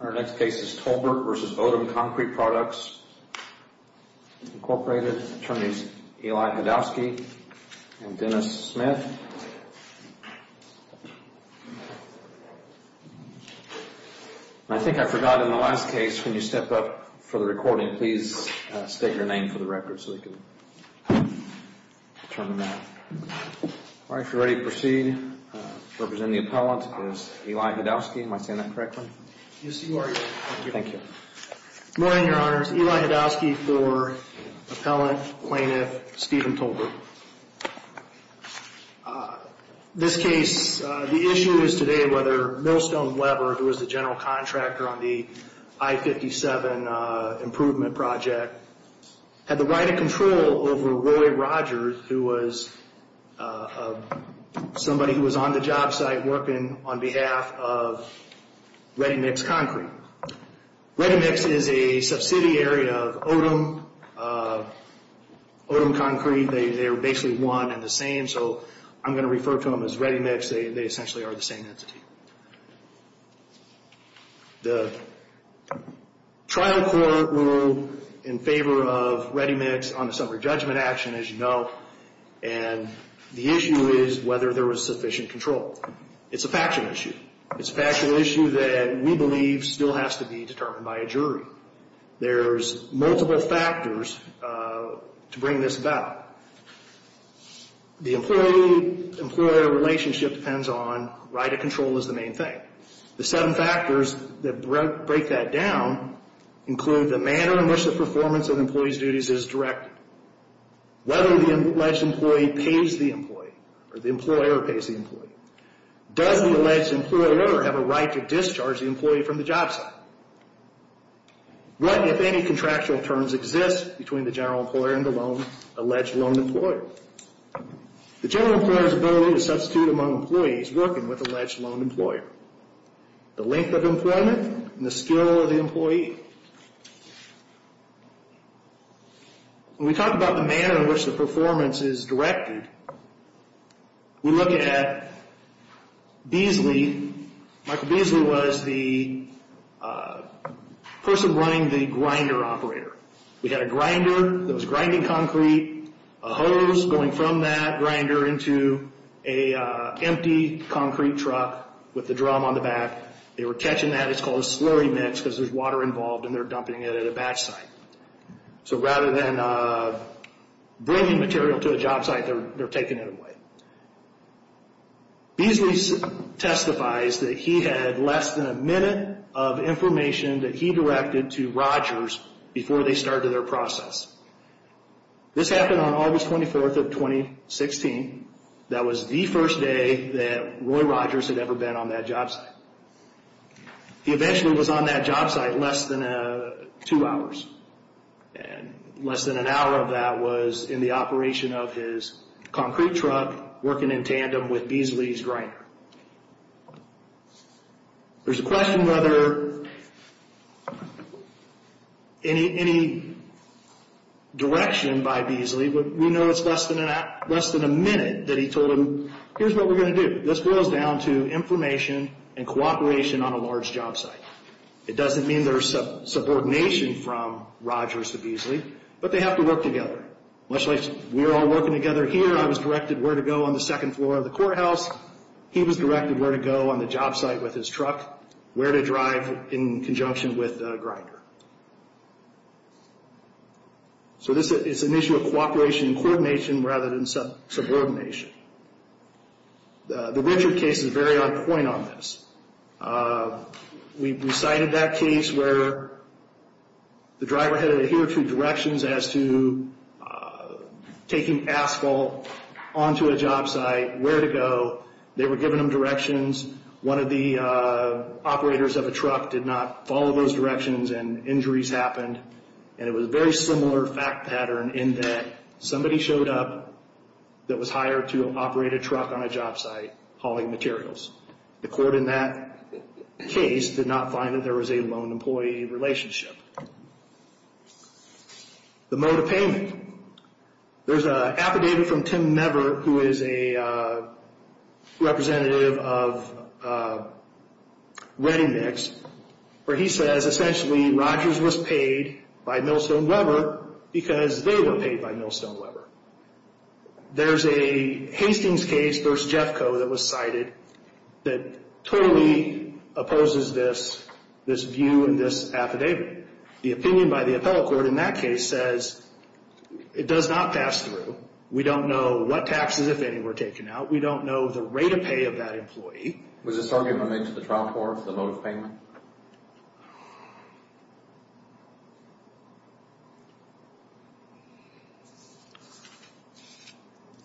Our next case is Tolbert v. Odum Concrete Products, Inc. Attorneys Eli Hedowski and Dennis Smith. And I think I forgot in the last case, when you step up for the recording, please state your name for the record so we can determine that. All right, if you're ready to proceed, representing the appellant is Eli Hedowski. Am I saying that correctly? Yes, you are. Thank you. Good morning, Your Honors. Eli Hedowski for Appellant, Plaintiff, Stephen Tolbert. This case, the issue is today whether Millstone Weber, who was the general contractor on the I-57 improvement project, had the right of control over Roy Rogers, who was somebody who was on the job site working on behalf of ReadyMix Concrete. ReadyMix is a subsidiary of Odum Concrete. They are basically one and the same, so I'm going to refer to them as ReadyMix. They essentially are the same entity. The trial court ruled in favor of ReadyMix on the summary judgment action, as you know, and the issue is whether there was sufficient control. It's a factual issue. It's a factual issue that we believe still has to be determined by a jury. There's multiple factors to bring this about. The employee-employer relationship depends on right of control as the main thing. The seven factors that break that down include the manner in which the performance of the employee's duties is directed, whether the alleged employee pays the employee, or the employer pays the employee. Does the alleged employer have a right to discharge the employee from the job site? What, if any, contractual terms exist between the general employer and the alleged loan employer? The general employer's ability to substitute among employees working with the alleged loan employer, the length of employment, and the skill of the employee. When we talk about the manner in which the performance is directed, we look at Beasley. Michael Beasley was the person running the grinder operator. We had a grinder that was grinding concrete, a hose going from that grinder into an empty concrete truck with the drum on the back. They were catching that. It's called a slurry mix because there's water involved, and they're dumping it at a batch site. So rather than bringing material to a job site, they're taking it away. Beasley testifies that he had less than a minute of information that he directed to Rogers before they started their process. This happened on August 24th of 2016. That was the first day that Roy Rogers had ever been on that job site. He eventually was on that job site less than two hours. And less than an hour of that was in the operation of his concrete truck working in tandem with Beasley's grinder. There's a question whether any direction by Beasley, but we know it's less than a minute that he told them, here's what we're going to do. This boils down to information and cooperation on a large job site. It doesn't mean there's subordination from Rogers to Beasley, but they have to work together. Much like we're all working together here, I was directed where to go on the second floor of the courthouse. He was directed where to go on the job site with his truck, where to drive in conjunction with the grinder. So this is an issue of cooperation and coordination rather than subordination. The Richard case is very on point on this. We cited that case where the driver had to adhere to directions as to taking asphalt onto a job site, where to go. They were giving them directions. One of the operators of a truck did not follow those directions and injuries happened. And it was a very similar fact pattern in that somebody showed up that was hired to operate a truck on a job site hauling materials. The court in that case did not find that there was a lone employee relationship. The mode of payment. There's an affidavit from Tim Never, who is a representative of ReadyMix, where he says essentially Rogers was paid by Millstone Weber because they were paid by Millstone Weber. There's a Hastings case versus Jeffco that was cited that totally opposes this view and this affidavit. The opinion by the appellate court in that case says it does not pass through. We don't know what taxes, if any, were taken out. We don't know the rate of pay of that employee. Was this argument made to the trial court, the mode of payment?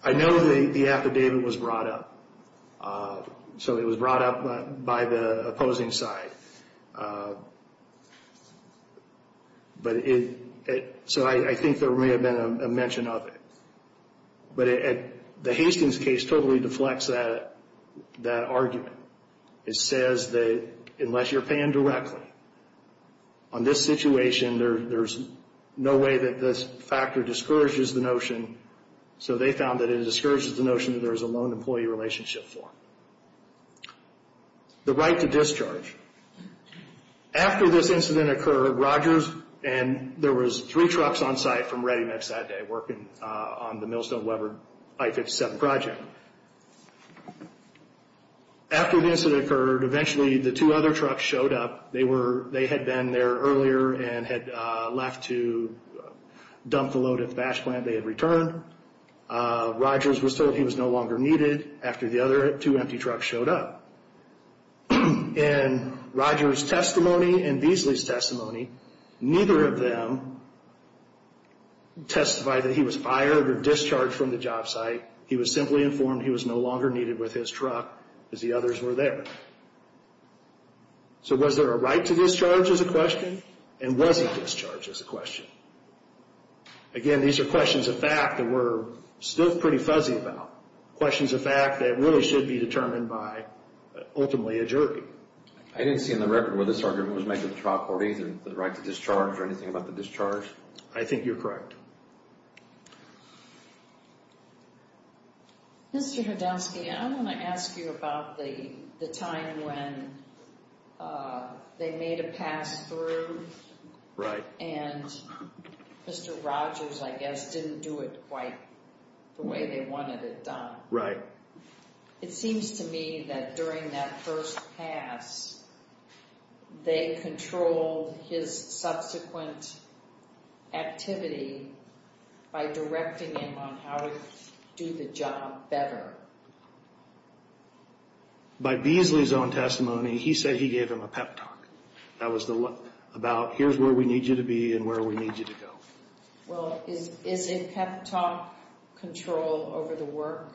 I know the affidavit was brought up. So it was brought up by the opposing side. So I think there may have been a mention of it. But the Hastings case totally deflects that argument. It says that unless you're paying directly on this situation, there's no way that this factor discourages the notion. So they found that it discourages the notion that there's a lone employee relationship for him. The right to discharge. After this incident occurred, Rogers and there was three trucks on site from ReadyMix that day working on the Millstone Weber I-57 project. After the incident occurred, eventually the two other trucks showed up. They had been there earlier and had left to dump the load at the batch plant. They had returned. Rogers was told he was no longer needed after the other two empty trucks showed up. In Rogers' testimony and Beasley's testimony, neither of them testified that he was fired or discharged from the job site. He was simply informed he was no longer needed with his truck because the others were there. So was there a right to discharge as a question? And was he discharged as a question? Again, these are questions of fact that we're still pretty fuzzy about, questions of fact that really should be determined by ultimately a jury. I didn't see in the record where this argument was made to the trial court either the right to discharge or anything about the discharge. I think you're correct. Mr. Hadowski, I want to ask you about the time when they made a pass through. Right. And Mr. Rogers, I guess, didn't do it quite the way they wanted it done. Right. It seems to me that during that first pass, they controlled his subsequent activity by directing him on how to do the job better. By Beasley's own testimony, he said he gave him a pep talk. That was about here's where we need you to be and where we need you to go. Well, is a pep talk control over the work?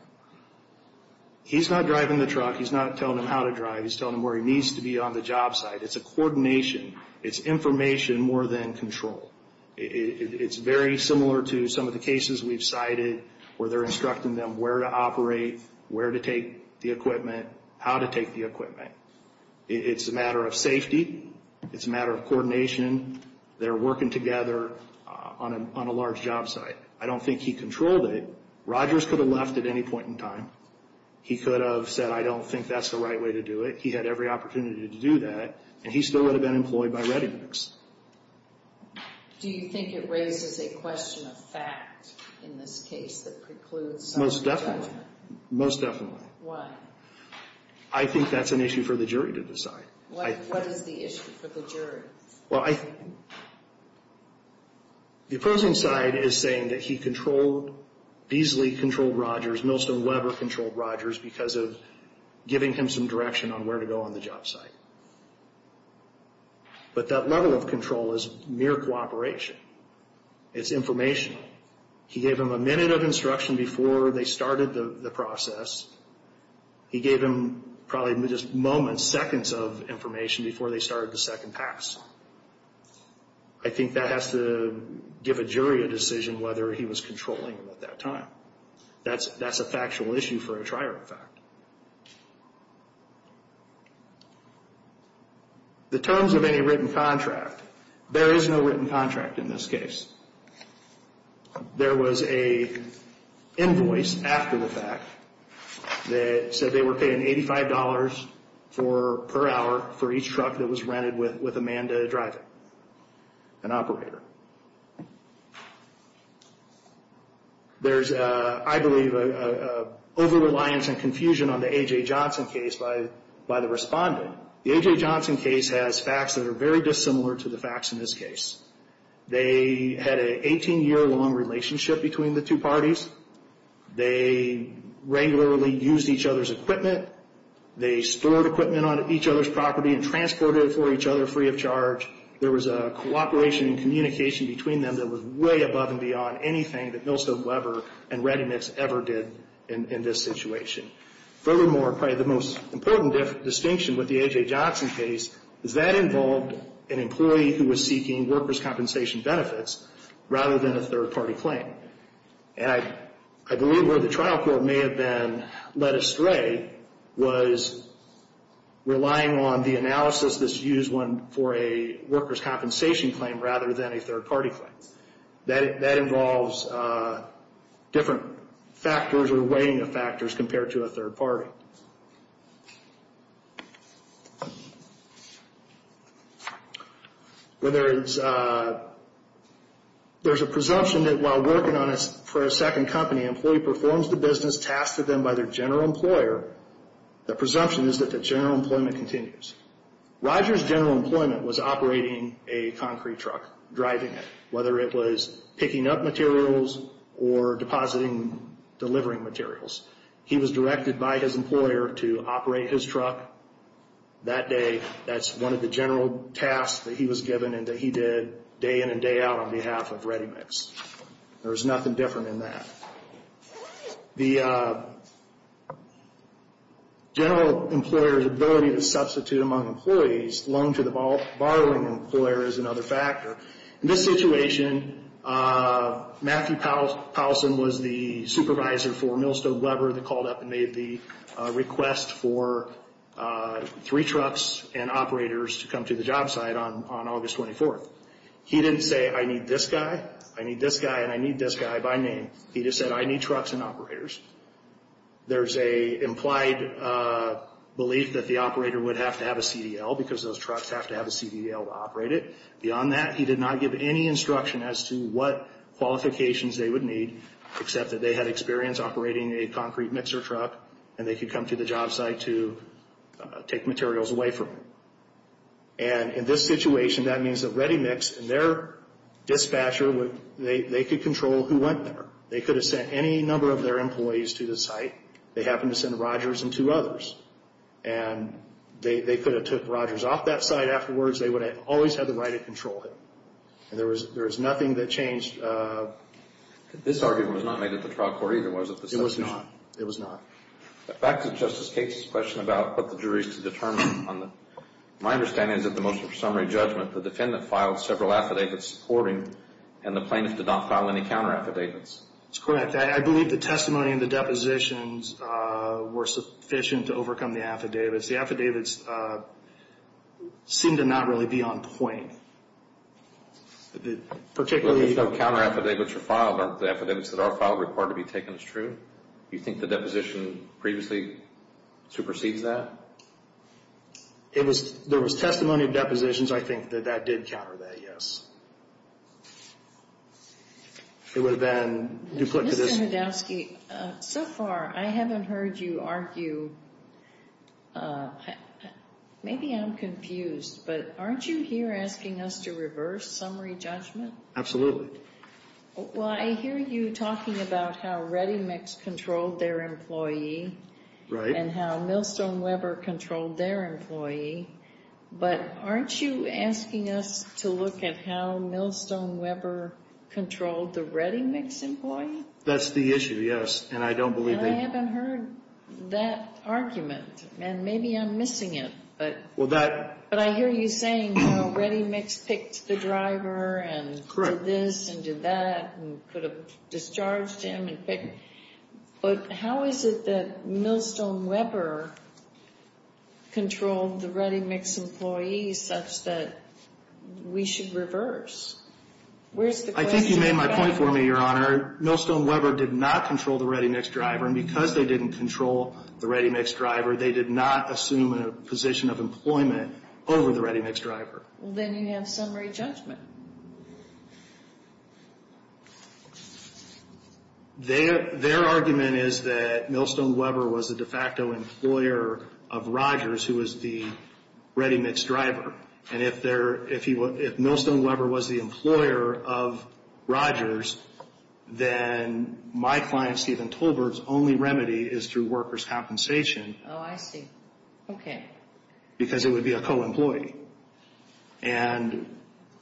He's not driving the truck. He's not telling him how to drive. He's telling him where he needs to be on the job site. It's a coordination. It's information more than control. It's very similar to some of the cases we've cited where they're instructing them where to operate, where to take the equipment, how to take the equipment. It's a matter of safety. It's a matter of coordination. They're working together on a large job site. I don't think he controlled it. Rogers could have left at any point in time. He could have said, I don't think that's the right way to do it. He had every opportunity to do that, and he still would have been employed by ReadyMix. Do you think it raises a question of fact in this case that precludes some of the judgment? Most definitely. Most definitely. Why? What is the issue for the jury? Well, I think the opposing side is saying that he controlled, Beasley controlled Rogers, Millstone, Weber controlled Rogers because of giving him some direction on where to go on the job site. But that level of control is mere cooperation. It's informational. He gave him a minute of instruction before they started the process. He gave him probably just moments, seconds of information before they started the second pass. I think that has to give a jury a decision whether he was controlling them at that time. That's a factual issue for a trier of fact. The terms of any written contract. There is no written contract in this case. There was an invoice after the fact that said they were paying $85 per hour for each truck that was rented with a man to drive it, an operator. There's, I believe, an over-reliance and confusion on the A.J. Johnson case by the respondent. The A.J. Johnson case has facts that are very dissimilar to the facts in this case. They had an 18-year-long relationship between the two parties. They regularly used each other's equipment. They stored equipment on each other's property and transported it for each other free of charge. There was a cooperation and communication between them that was way above and beyond anything that Millstone, Weber, and Redimix ever did in this situation. Furthermore, probably the most important distinction with the A.J. Johnson case is that involved an employee who was seeking workers' compensation benefits rather than a third-party claim. And I believe where the trial court may have been led astray was relying on the analysis that's used for a workers' compensation claim rather than a third-party claim. That involves different factors or weighing of factors compared to a third-party. There's a presumption that while working for a second company, an employee performs the business tasked with them by their general employer, the presumption is that the general employment continues. Roger's general employment was operating a concrete truck, driving it, whether it was picking up materials or depositing, delivering materials. He was directed by his employer to operate his truck that day. That's one of the general tasks that he was given and that he did day in and day out on behalf of Redimix. There was nothing different in that. The general employer's ability to substitute among employees, loan to the borrowing employer, is another factor. In this situation, Matthew Powelson was the supervisor for Millstone Weber that called up and made the request for three trucks and operators to come to the job site on August 24th. He didn't say, I need this guy, I need this guy, and I need this guy by name. He just said, I need trucks and operators. There's an implied belief that the operator would have to have a CDL because those trucks have to have a CDL to operate it. Beyond that, he did not give any instruction as to what qualifications they would need, except that they had experience operating a concrete mixer truck and they could come to the job site to take materials away from them. In this situation, that means that Redimix and their dispatcher, they could control who went there. They could have sent any number of their employees to the site. They happened to send Rogers and two others. They could have took Rogers off that site afterwards. They would have always had the right to control him. There was nothing that changed. This argument was not made at the trial court either, was it? It was not. Back to Justice Cates' question about what the jury is to determine. My understanding is that the motion for summary judgment, the defendant filed several affidavits supporting, and the plaintiff did not file any counter-affidavits. That's correct. I believe the testimony and the depositions were sufficient to overcome the affidavits. The affidavits seemed to not really be on point. Particularly… If no counter-affidavits are filed, aren't the affidavits that are filed required to be taken as true? Do you think the deposition previously supersedes that? There was testimony of depositions. I think that that did counter that, yes. It would have been duplicated. Mr. Hedowski, so far I haven't heard you argue. Maybe I'm confused, but aren't you here asking us to reverse summary judgment? Absolutely. Well, I hear you talking about how ReadyMix controlled their employee… Right. …and how Millstone Weber controlled their employee, but aren't you asking us to look at how Millstone Weber controlled the ReadyMix employee? That's the issue, yes, and I don't believe that… And I haven't heard that argument, and maybe I'm missing it, but… Well, that… But I hear you saying how ReadyMix picked the driver and… Correct. …did this and did that and could have discharged him and picked. But how is it that Millstone Weber controlled the ReadyMix employee such that we should reverse? Where's the question about… I think you made my point for me, Your Honor. Millstone Weber did not control the ReadyMix driver, and because they didn't control the ReadyMix driver, they did not assume a position of employment over the ReadyMix driver. Well, then you have summary judgment. Their argument is that Millstone Weber was the de facto employer of Rogers, who was the ReadyMix driver, and if Millstone Weber was the employer of Rogers, then my client, Steven Tolbert's, only remedy is through workers' compensation. Oh, I see. Okay. Because it would be a co-employee. And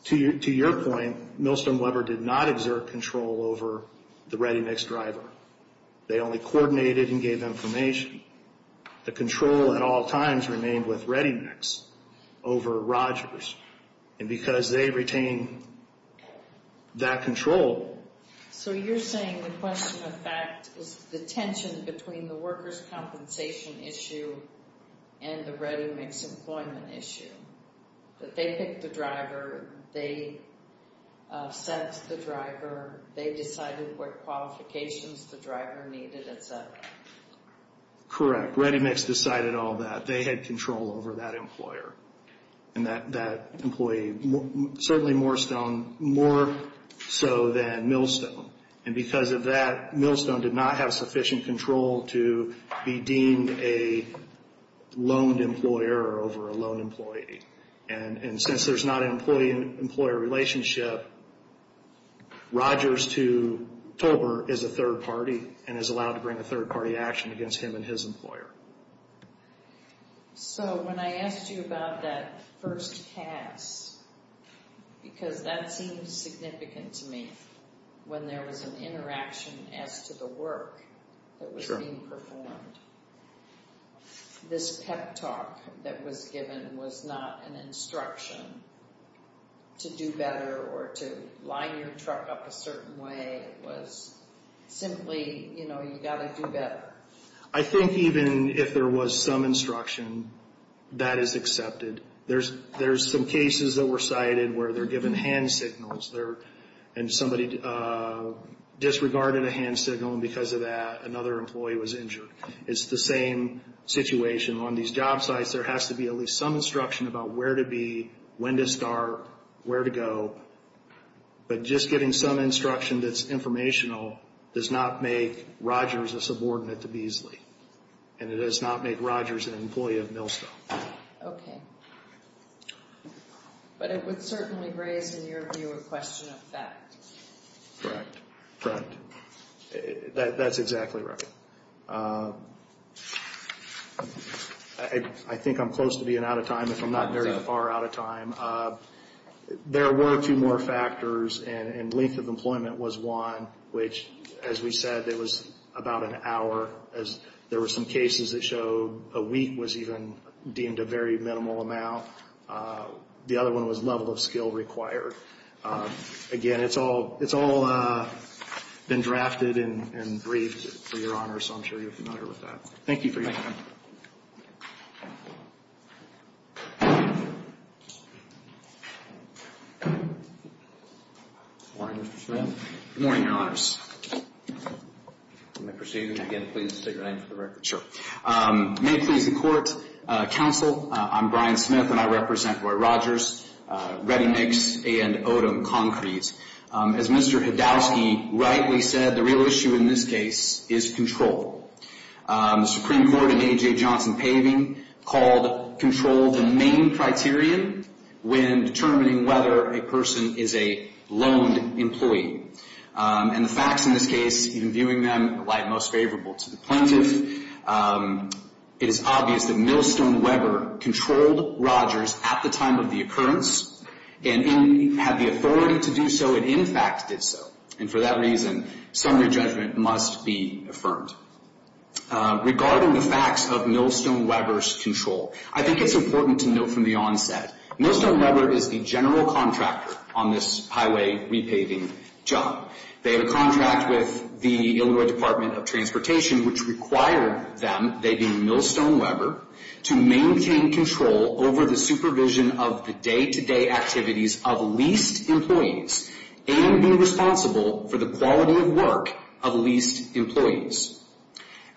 to your point, Millstone Weber did not exert control over the ReadyMix driver. They only coordinated and gave information. The control at all times remained with ReadyMix over Rogers, and because they retained that control… So you're saying the question of fact is the tension between the workers' compensation issue and the ReadyMix employment issue, that they picked the driver, they set the driver, they decided what qualifications the driver needed, et cetera. Correct. ReadyMix decided all that. They had control over that employer. And that employee, certainly Morestone, more so than Millstone. And because of that, Millstone did not have sufficient control to be deemed a loaned employer over a loan employee. And since there's not an employee-employer relationship, Rogers to Tolbert is a third party and is allowed to bring a third-party action against him and his employer. So when I asked you about that first pass, because that seemed significant to me, when there was an interaction as to the work that was being performed, this pep talk that was given was not an instruction to do better or to line your truck up a certain way. It was simply, you know, you've got to do better. I think even if there was some instruction, that is accepted. There's some cases that were cited where they're given hand signals and somebody disregarded a hand signal, and because of that, another employee was injured. It's the same situation on these job sites. Yes, there has to be at least some instruction about where to be, when to start, where to go. But just getting some instruction that's informational does not make Rogers a subordinate to Beasley, and it does not make Rogers an employee of Millstone. Okay. But it would certainly raise, in your view, a question of fact. Correct. Correct. That's exactly right. I think I'm close to being out of time, if I'm not very far out of time. There were two more factors, and length of employment was one, which, as we said, it was about an hour. There were some cases that showed a week was even deemed a very minimal amount. The other one was level of skill required. Again, it's all been drafted and briefed for Your Honor, so I'm sure you're familiar with that. Thank you for your time. Thank you. Good morning, Mr. Smith. Good morning, Your Honors. May I proceed? Again, please state your name for the record. Sure. May it please the Court, Counsel, I'm Brian Smith, and I represent Roy Rogers, Ready Mix, and Odom Concrete. As Mr. Hedowski rightly said, the real issue in this case is control. The Supreme Court in A.J. Johnson-Paving called control the main criterion when determining whether a person is a loaned employee. And the facts in this case, in viewing them, lie most favorable to the plaintiff. It is obvious that Millstone Weber controlled Rogers at the time of the occurrence and had the authority to do so, and in fact did so. And for that reason, summary judgment must be affirmed. Regarding the facts of Millstone Weber's control, I think it's important to note from the onset, Millstone Weber is the general contractor on this highway repaving job. They have a contract with the Illinois Department of Transportation, which required them, they being Millstone Weber, to maintain control over the supervision of the day-to-day activities of leased employees and be responsible for the quality of work of leased employees.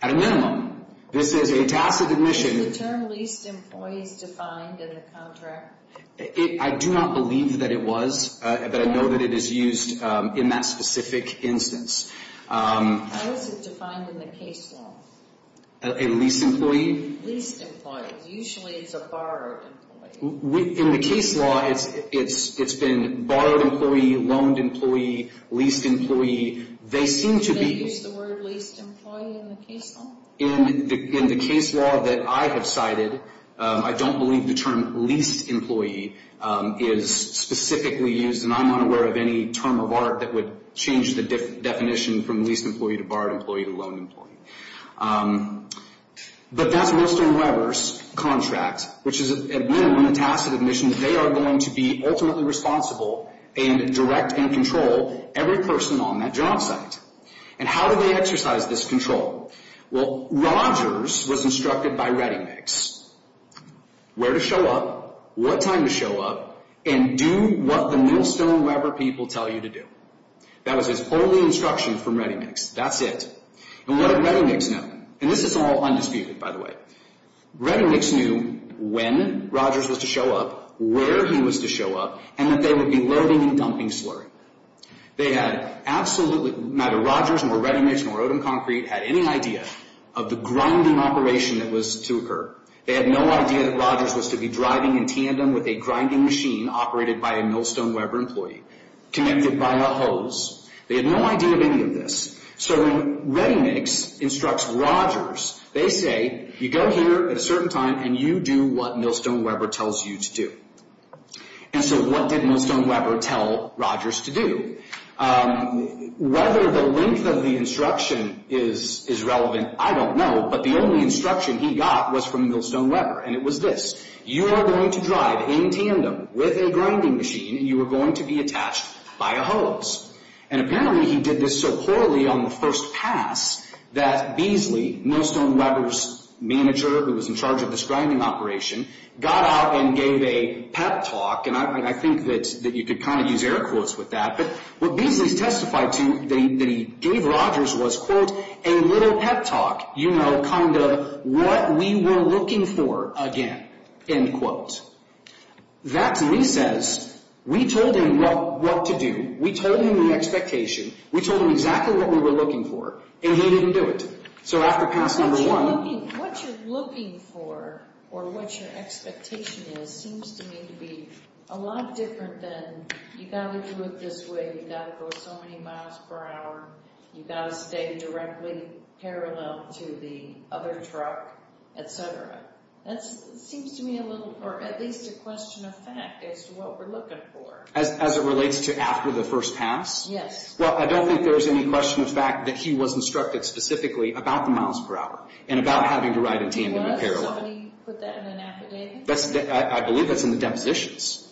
At a minimum, this is a tacit admission. Is the term leased employees defined in the contract? I do not believe that it was, but I know that it is used in that specific instance. How is it defined in the case law? A leased employee? Leased employee. Usually it's a borrowed employee. In the case law, it's been borrowed employee, loaned employee, leased employee. They seem to be- Do they use the word leased employee in the case law? In the case law that I have cited, I don't believe the term leased employee is specifically used, and I'm not aware of any term of art that would change the definition from leased employee to borrowed employee to loaned employee. But that's Millstone Weber's contract, which is, again, a tacit admission that they are going to be ultimately responsible and direct and control every person on that job site. And how do they exercise this control? Well, Rogers was instructed by ReadyMix where to show up, what time to show up, and do what the Millstone Weber people tell you to do. That was his only instruction from ReadyMix. That's it. And what did ReadyMix know? And this is all undisputed, by the way. ReadyMix knew when Rogers was to show up, where he was to show up, and that they would be loading and dumping slurry. They had absolutely, neither Rogers nor ReadyMix nor Odom Concrete had any idea of the grinding operation that was to occur. They had no idea that Rogers was to be driving in tandem with a grinding machine operated by a Millstone Weber employee, connected by a hose. They had no idea of any of this. So when ReadyMix instructs Rogers, they say, you go here at a certain time and you do what Millstone Weber tells you to do. And so what did Millstone Weber tell Rogers to do? Whether the length of the instruction is relevant, I don't know. But the only instruction he got was from Millstone Weber, and it was this. You are going to drive in tandem with a grinding machine, and you are going to be attached by a hose. And apparently he did this so poorly on the first pass that Beasley, Millstone Weber's manager who was in charge of this grinding operation, got out and gave a pep talk, and I think that you could kind of use air quotes with that. But what Beasley testified to that he gave Rogers was, quote, a little pep talk, you know, kind of what we were looking for again, end quote. That's recess. We told him what to do. We told him the expectation. We told him exactly what we were looking for, and he didn't do it. What you're looking for or what your expectation is seems to me to be a lot different than you've got to do it this way, you've got to go so many miles per hour, you've got to stay directly parallel to the other truck, et cetera. That seems to me a little, or at least a question of fact as to what we're looking for. As it relates to after the first pass? Yes. Well, I don't think there is any question of fact that he was instructed specifically about the miles per hour and about having to ride in tandem in parallel. He was? Somebody put that in an affidavit? I believe that's in the depositions,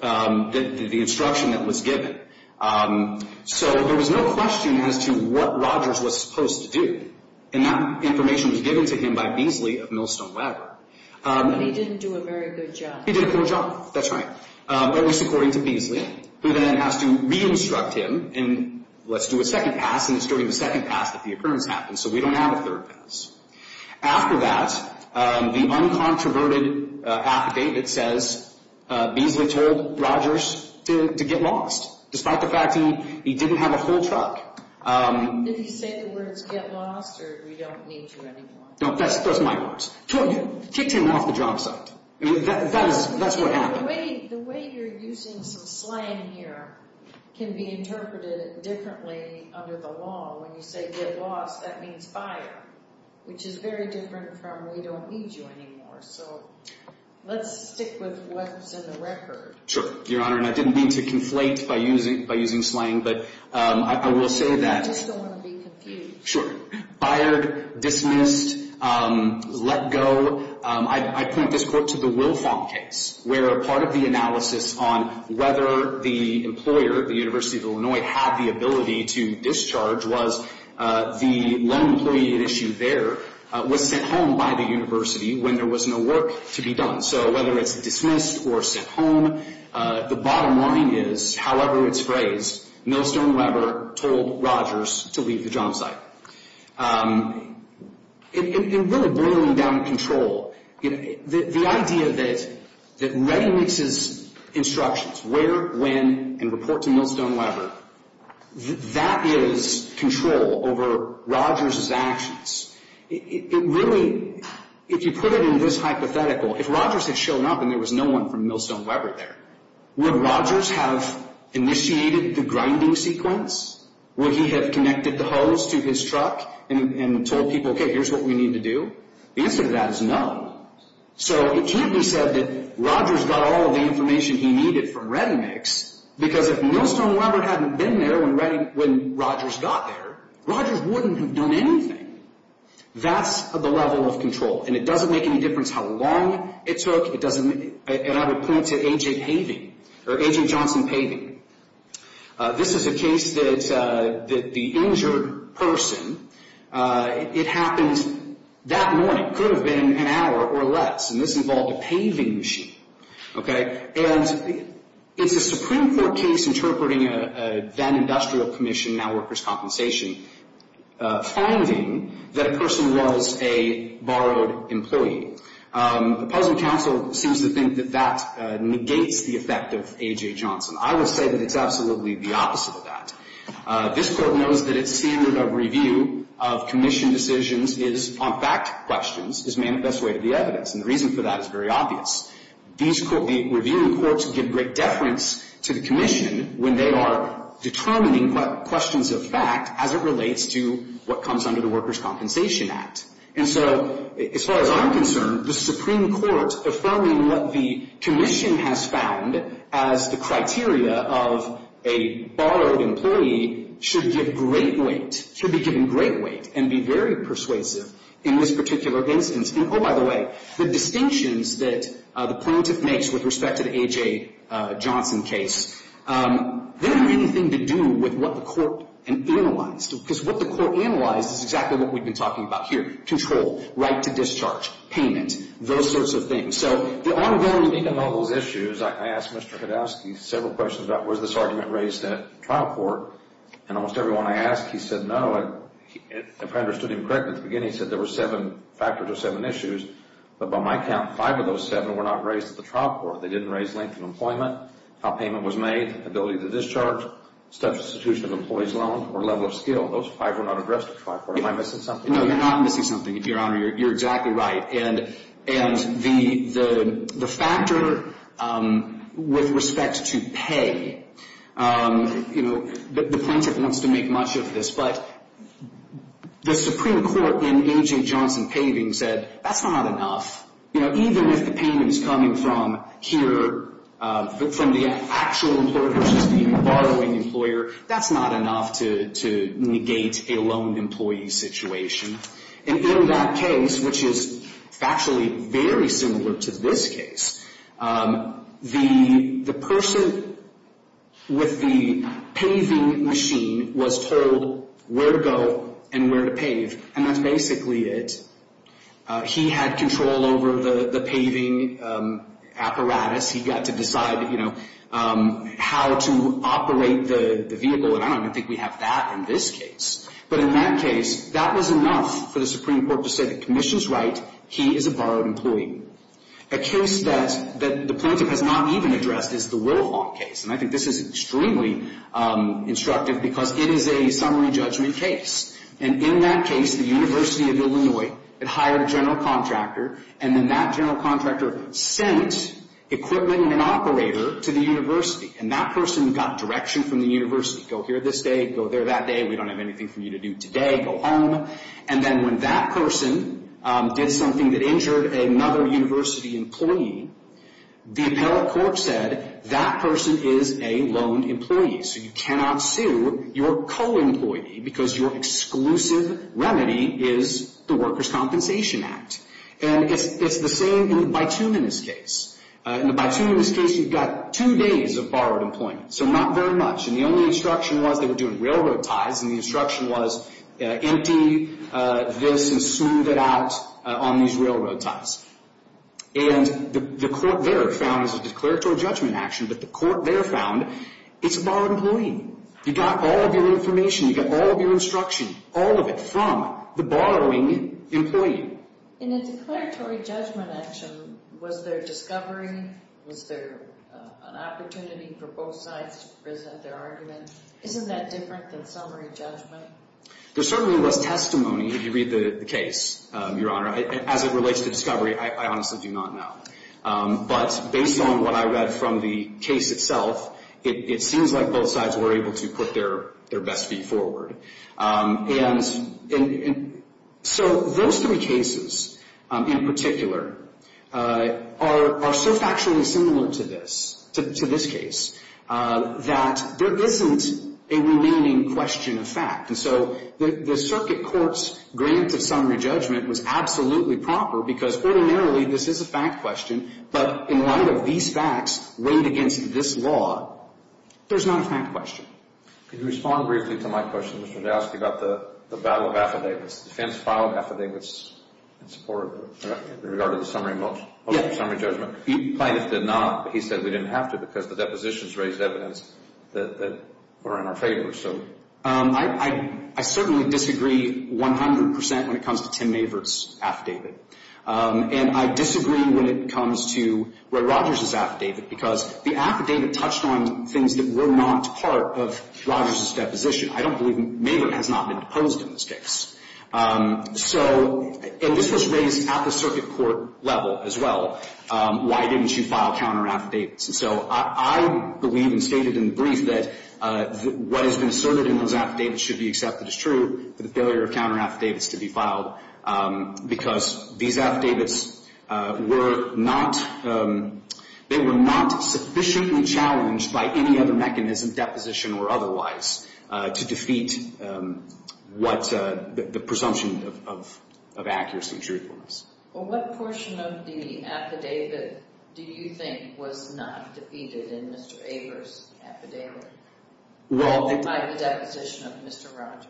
the instruction that was given. So there was no question as to what Rogers was supposed to do, and that information was given to him by Beasley of Millstone Weber. But he didn't do a very good job. He did a poor job. That's right. At least according to Beasley, who then has to re-instruct him, and let's do a second pass, and it's during the second pass that the occurrence happens, so we don't have a third pass. After that, the uncontroverted affidavit says Beasley told Rogers to get lost, despite the fact he didn't have a whole truck. Did he say the words, get lost, or we don't need you anymore? No, that's my words. Kicked him off the job site. That's what happened. The way you're using some slang here can be interpreted differently under the law. When you say get lost, that means fire, which is very different from we don't need you anymore. So let's stick with what's in the record. Sure, Your Honor, and I didn't mean to conflate by using slang, but I will say that— I just don't want to be confused. Sure. Fired, dismissed, let go. I point this court to the Wilfong case, where part of the analysis on whether the employer, the University of Illinois, had the ability to discharge was the lone employee at issue there was sent home by the university when there was no work to be done. So whether it's dismissed or sent home, the bottom line is, however it's phrased, Millstone Weber told Rogers to leave the job site. It really brought him down to control. The idea that Redding makes his instructions, where, when, and report to Millstone Weber, that is control over Rogers' actions. It really—if you put it in this hypothetical, if Rogers had shown up and there was no one from Millstone Weber there, would Rogers have initiated the grinding sequence? Would he have connected the hose to his truck and told people, okay, here's what we need to do? The answer to that is no. So it can't be said that Rogers got all of the information he needed from Redding Mix, because if Millstone Weber hadn't been there when Rogers got there, Rogers wouldn't have done anything. That's the level of control, and it doesn't make any difference how long it took. It doesn't—and I would point to A.J. Paving, or A.J. Johnson Paving. This is a case that the injured person, it happened that morning. It could have been an hour or less, and this involved a paving machine, okay? And it's a Supreme Court case interpreting a then-Industrial Commission, now Workers' Compensation, finding that a person was a borrowed employee. The Puzzle Council seems to think that that negates the effect of A.J. Johnson. I would say that it's absolutely the opposite of that. This Court knows that its standard of review of Commission decisions is on fact questions, is manifest way to the evidence, and the reason for that is very obvious. The reviewing courts give great deference to the Commission when they are determining questions of fact as it relates to what comes under the Workers' Compensation Act. And so, as far as I'm concerned, the Supreme Court affirming what the Commission has found as the criteria of a borrowed employee should give great weight, should be given great weight, and be very persuasive in this particular instance. And, oh, by the way, the distinctions that the plaintiff makes with respect to the A.J. Johnson case, they don't have anything to do with what the Court analyzed, because what the Court analyzed is exactly what we've been talking about here. Control, right to discharge, payment, those sorts of things. So, the ongoing... In all those issues, I asked Mr. Kodowsky several questions about, was this argument raised at trial court? And almost everyone I asked, he said no. If I understood him correctly at the beginning, he said there were seven factors or seven issues, but by my count, five of those seven were not raised at the trial court. They didn't raise length of employment, how payment was made, ability to discharge, level of substitution of employee's loan, or level of skill. Those five were not addressed at trial court. Am I missing something? No, you're not missing something, Your Honor. You're exactly right. And the factor with respect to pay, you know, the plaintiff wants to make much of this, but the Supreme Court in A.J. Johnson paving said that's not enough. You know, even if the payment is coming from here, from the actual employer versus the borrowing employer, that's not enough to negate a loaned employee situation. And in that case, which is factually very similar to this case, the person with the paving machine was told where to go and where to pave, and that's basically it. He had control over the paving apparatus. He got to decide, you know, how to operate the vehicle, and I don't even think we have that in this case. But in that case, that was enough for the Supreme Court to say the commission's right, he is a borrowed employee. A case that the plaintiff has not even addressed is the Wilhelm case, and I think this is extremely instructive because it is a summary judgment case. And in that case, the University of Illinois had hired a general contractor, and then that general contractor sent equipment and an operator to the university, and that person got direction from the university, go here this day, go there that day, we don't have anything for you to do today, go home. And then when that person did something that injured another university employee, the appellate court said that person is a loaned employee, so you cannot sue your co-employee because your exclusive remedy is the Workers' Compensation Act. And it's the same in the Bituminous case. In the Bituminous case, you've got two days of borrowed employment, so not very much. And the only instruction was they were doing railroad ties, and the instruction was empty this and smooth it out on these railroad ties. And the court there found as a declaratory judgment action that the court there found it's a borrowed employee. You got all of your information. You got all of your instruction, all of it, from the borrowing employee. In a declaratory judgment action, was there discovery? Was there an opportunity for both sides to present their argument? Isn't that different than summary judgment? As it relates to discovery, I honestly do not know. But based on what I read from the case itself, it seems like both sides were able to put their best feet forward. And so those three cases in particular are so factually similar to this, to this case, that there isn't a remaining question of fact. And so the circuit court's grant of summary judgment was absolutely proper, because ordinarily this is a fact question. But in light of these facts weighed against this law, there's not a fact question. Could you respond briefly to my question, Mr. D'Alessio, about the battle of affidavits, the defense file of affidavits in regard to the summary judgment? Yes. He said we didn't have to because the depositions raised evidence that were in our favor. I certainly disagree 100 percent when it comes to Tim Maverick's affidavit. And I disagree when it comes to Roy Rogers' affidavit, because the affidavit touched on things that were not part of Rogers' deposition. I don't believe Maverick has not been deposed in this case. And this was raised at the circuit court level as well. Why didn't you file counter affidavits? So I believe and stated in the brief that what has been asserted in those affidavits should be accepted as true, for the failure of counter affidavits to be filed, because these affidavits were not sufficiently challenged by any other mechanism, deposition or otherwise, to defeat what the presumption of accuracy and truthfulness. Well, what portion of the affidavit do you think was not defeated in Mr. Avers' affidavit by the deposition of Mr. Rogers?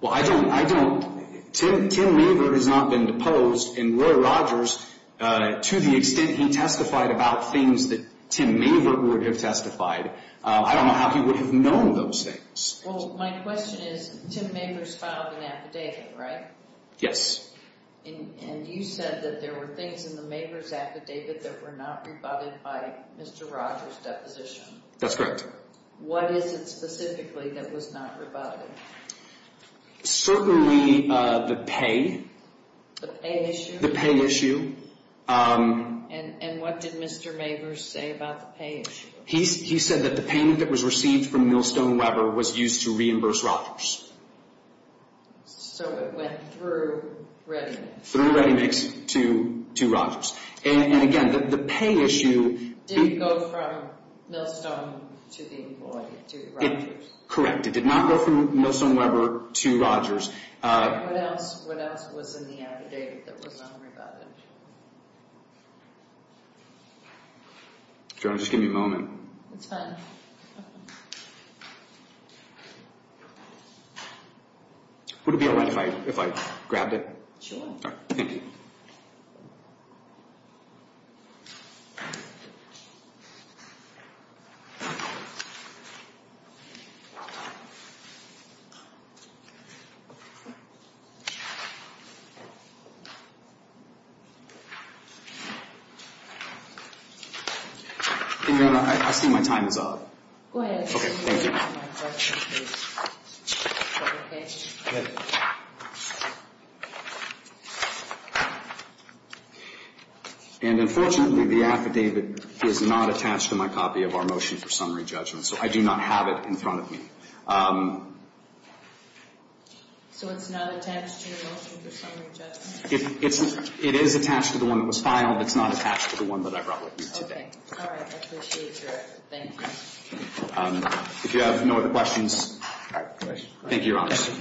Well, I don't. Tim Maverick has not been deposed. And Roy Rogers, to the extent he testified about things that Tim Maverick would have testified, I don't know how he would have known those things. Well, my question is Tim Maverick's filed an affidavit, right? Yes. And you said that there were things in the Maverick's affidavit that were not rebutted by Mr. Rogers' deposition. That's correct. What is it specifically that was not rebutted? Certainly the pay. The pay issue? The pay issue. And what did Mr. Maverick say about the pay issue? He said that the payment that was received from Millstone Weber was used to reimburse Rogers. So it went through ReadyMix? Through ReadyMix to Rogers. And again, the pay issue... Didn't go from Millstone to the employee, to Rogers? Correct. It did not go from Millstone Weber to Rogers. And what else was in the affidavit that was not rebutted? Do you want to just give me a moment? It's fine. Would it be all right if I grabbed it? Sure. Thank you. I see my time is up. Go ahead. Okay. Thank you. Go ahead. And unfortunately, the affidavit is not attached to my copy of our motion for summary judgment. So I do not have it in front of me. So it's not attached to your motion for summary judgment? It is attached to the one that was filed. It's not attached to the one that I brought with me today. Okay. All right. I appreciate your... Thank you. If you have no other questions... Thank you, Your Honor. Mr.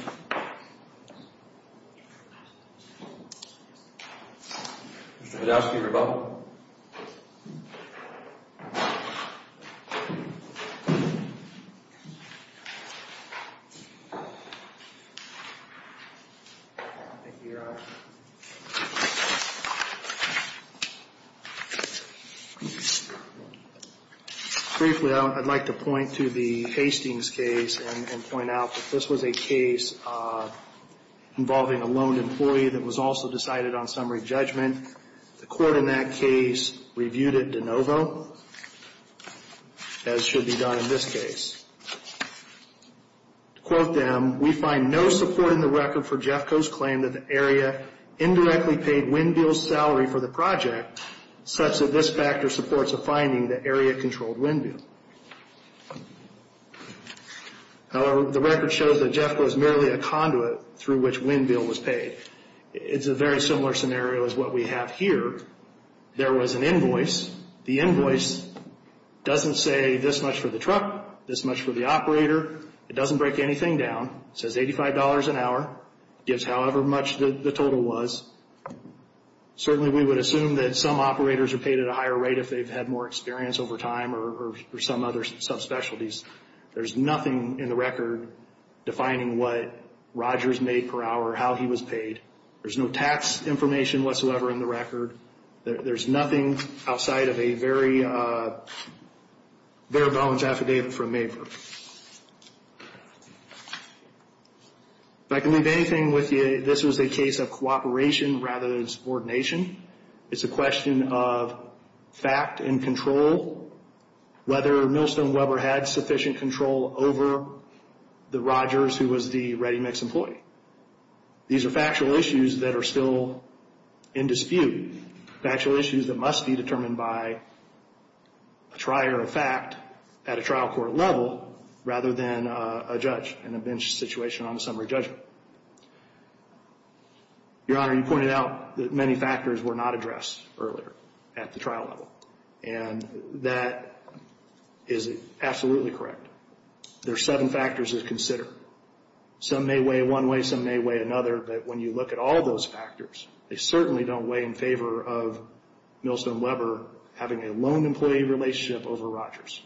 Hedowski, rebuttal. Thank you, Your Honor. Briefly, I'd like to point to the Hastings case and point out that this was a case involving a loaned employee that was also decided on summary judgment. The court in that case reviewed it de novo, as should be done in this case. To quote them, we find no support in the record for Jeffco's claim that the area indirectly paid Winn-Dill's salary for the project, such that this factor supports a finding that area controlled Winn-Dill. However, the record shows that Jeffco is merely a conduit through which Winn-Dill was paid. It's a very similar scenario as what we have here. There was an invoice. The invoice doesn't say this much for the truck, this much for the operator. It doesn't break anything down. It says $85 an hour. It gives however much the total was. Certainly, we would assume that some operators are paid at a higher rate if they've had more experience over time or some other subspecialties. There's nothing in the record defining what Rogers made per hour, how he was paid. There's no tax information whatsoever in the record. There's nothing outside of a very balanced affidavit from MAPR. If I can leave anything with you, this was a case of cooperation rather than subordination. It's a question of fact and control, whether Millstone Weber had sufficient control over the Rogers who was the ReadyMix employee. These are factual issues that are still in dispute, factual issues that must be determined by a trier of fact at a trial court level rather than a judge in a bench situation on a summary judgment. Your Honor, you pointed out that many factors were not addressed earlier at the trial level, and that is absolutely correct. There are seven factors to consider. Some may weigh one way, some may weigh another, but when you look at all of those factors, they certainly don't weigh in favor of Millstone Weber having a lone employee relationship over Rogers.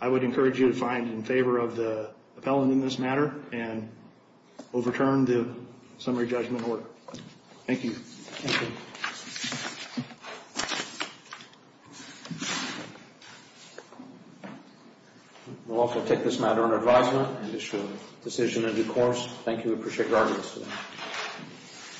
I would encourage you to find in favor of the appellant in this matter and overturn the summary judgment order. Thank you. Thank you. Thank you. We'll also take this matter under advisement and issue a decision in due course. Thank you. We appreciate your audience today.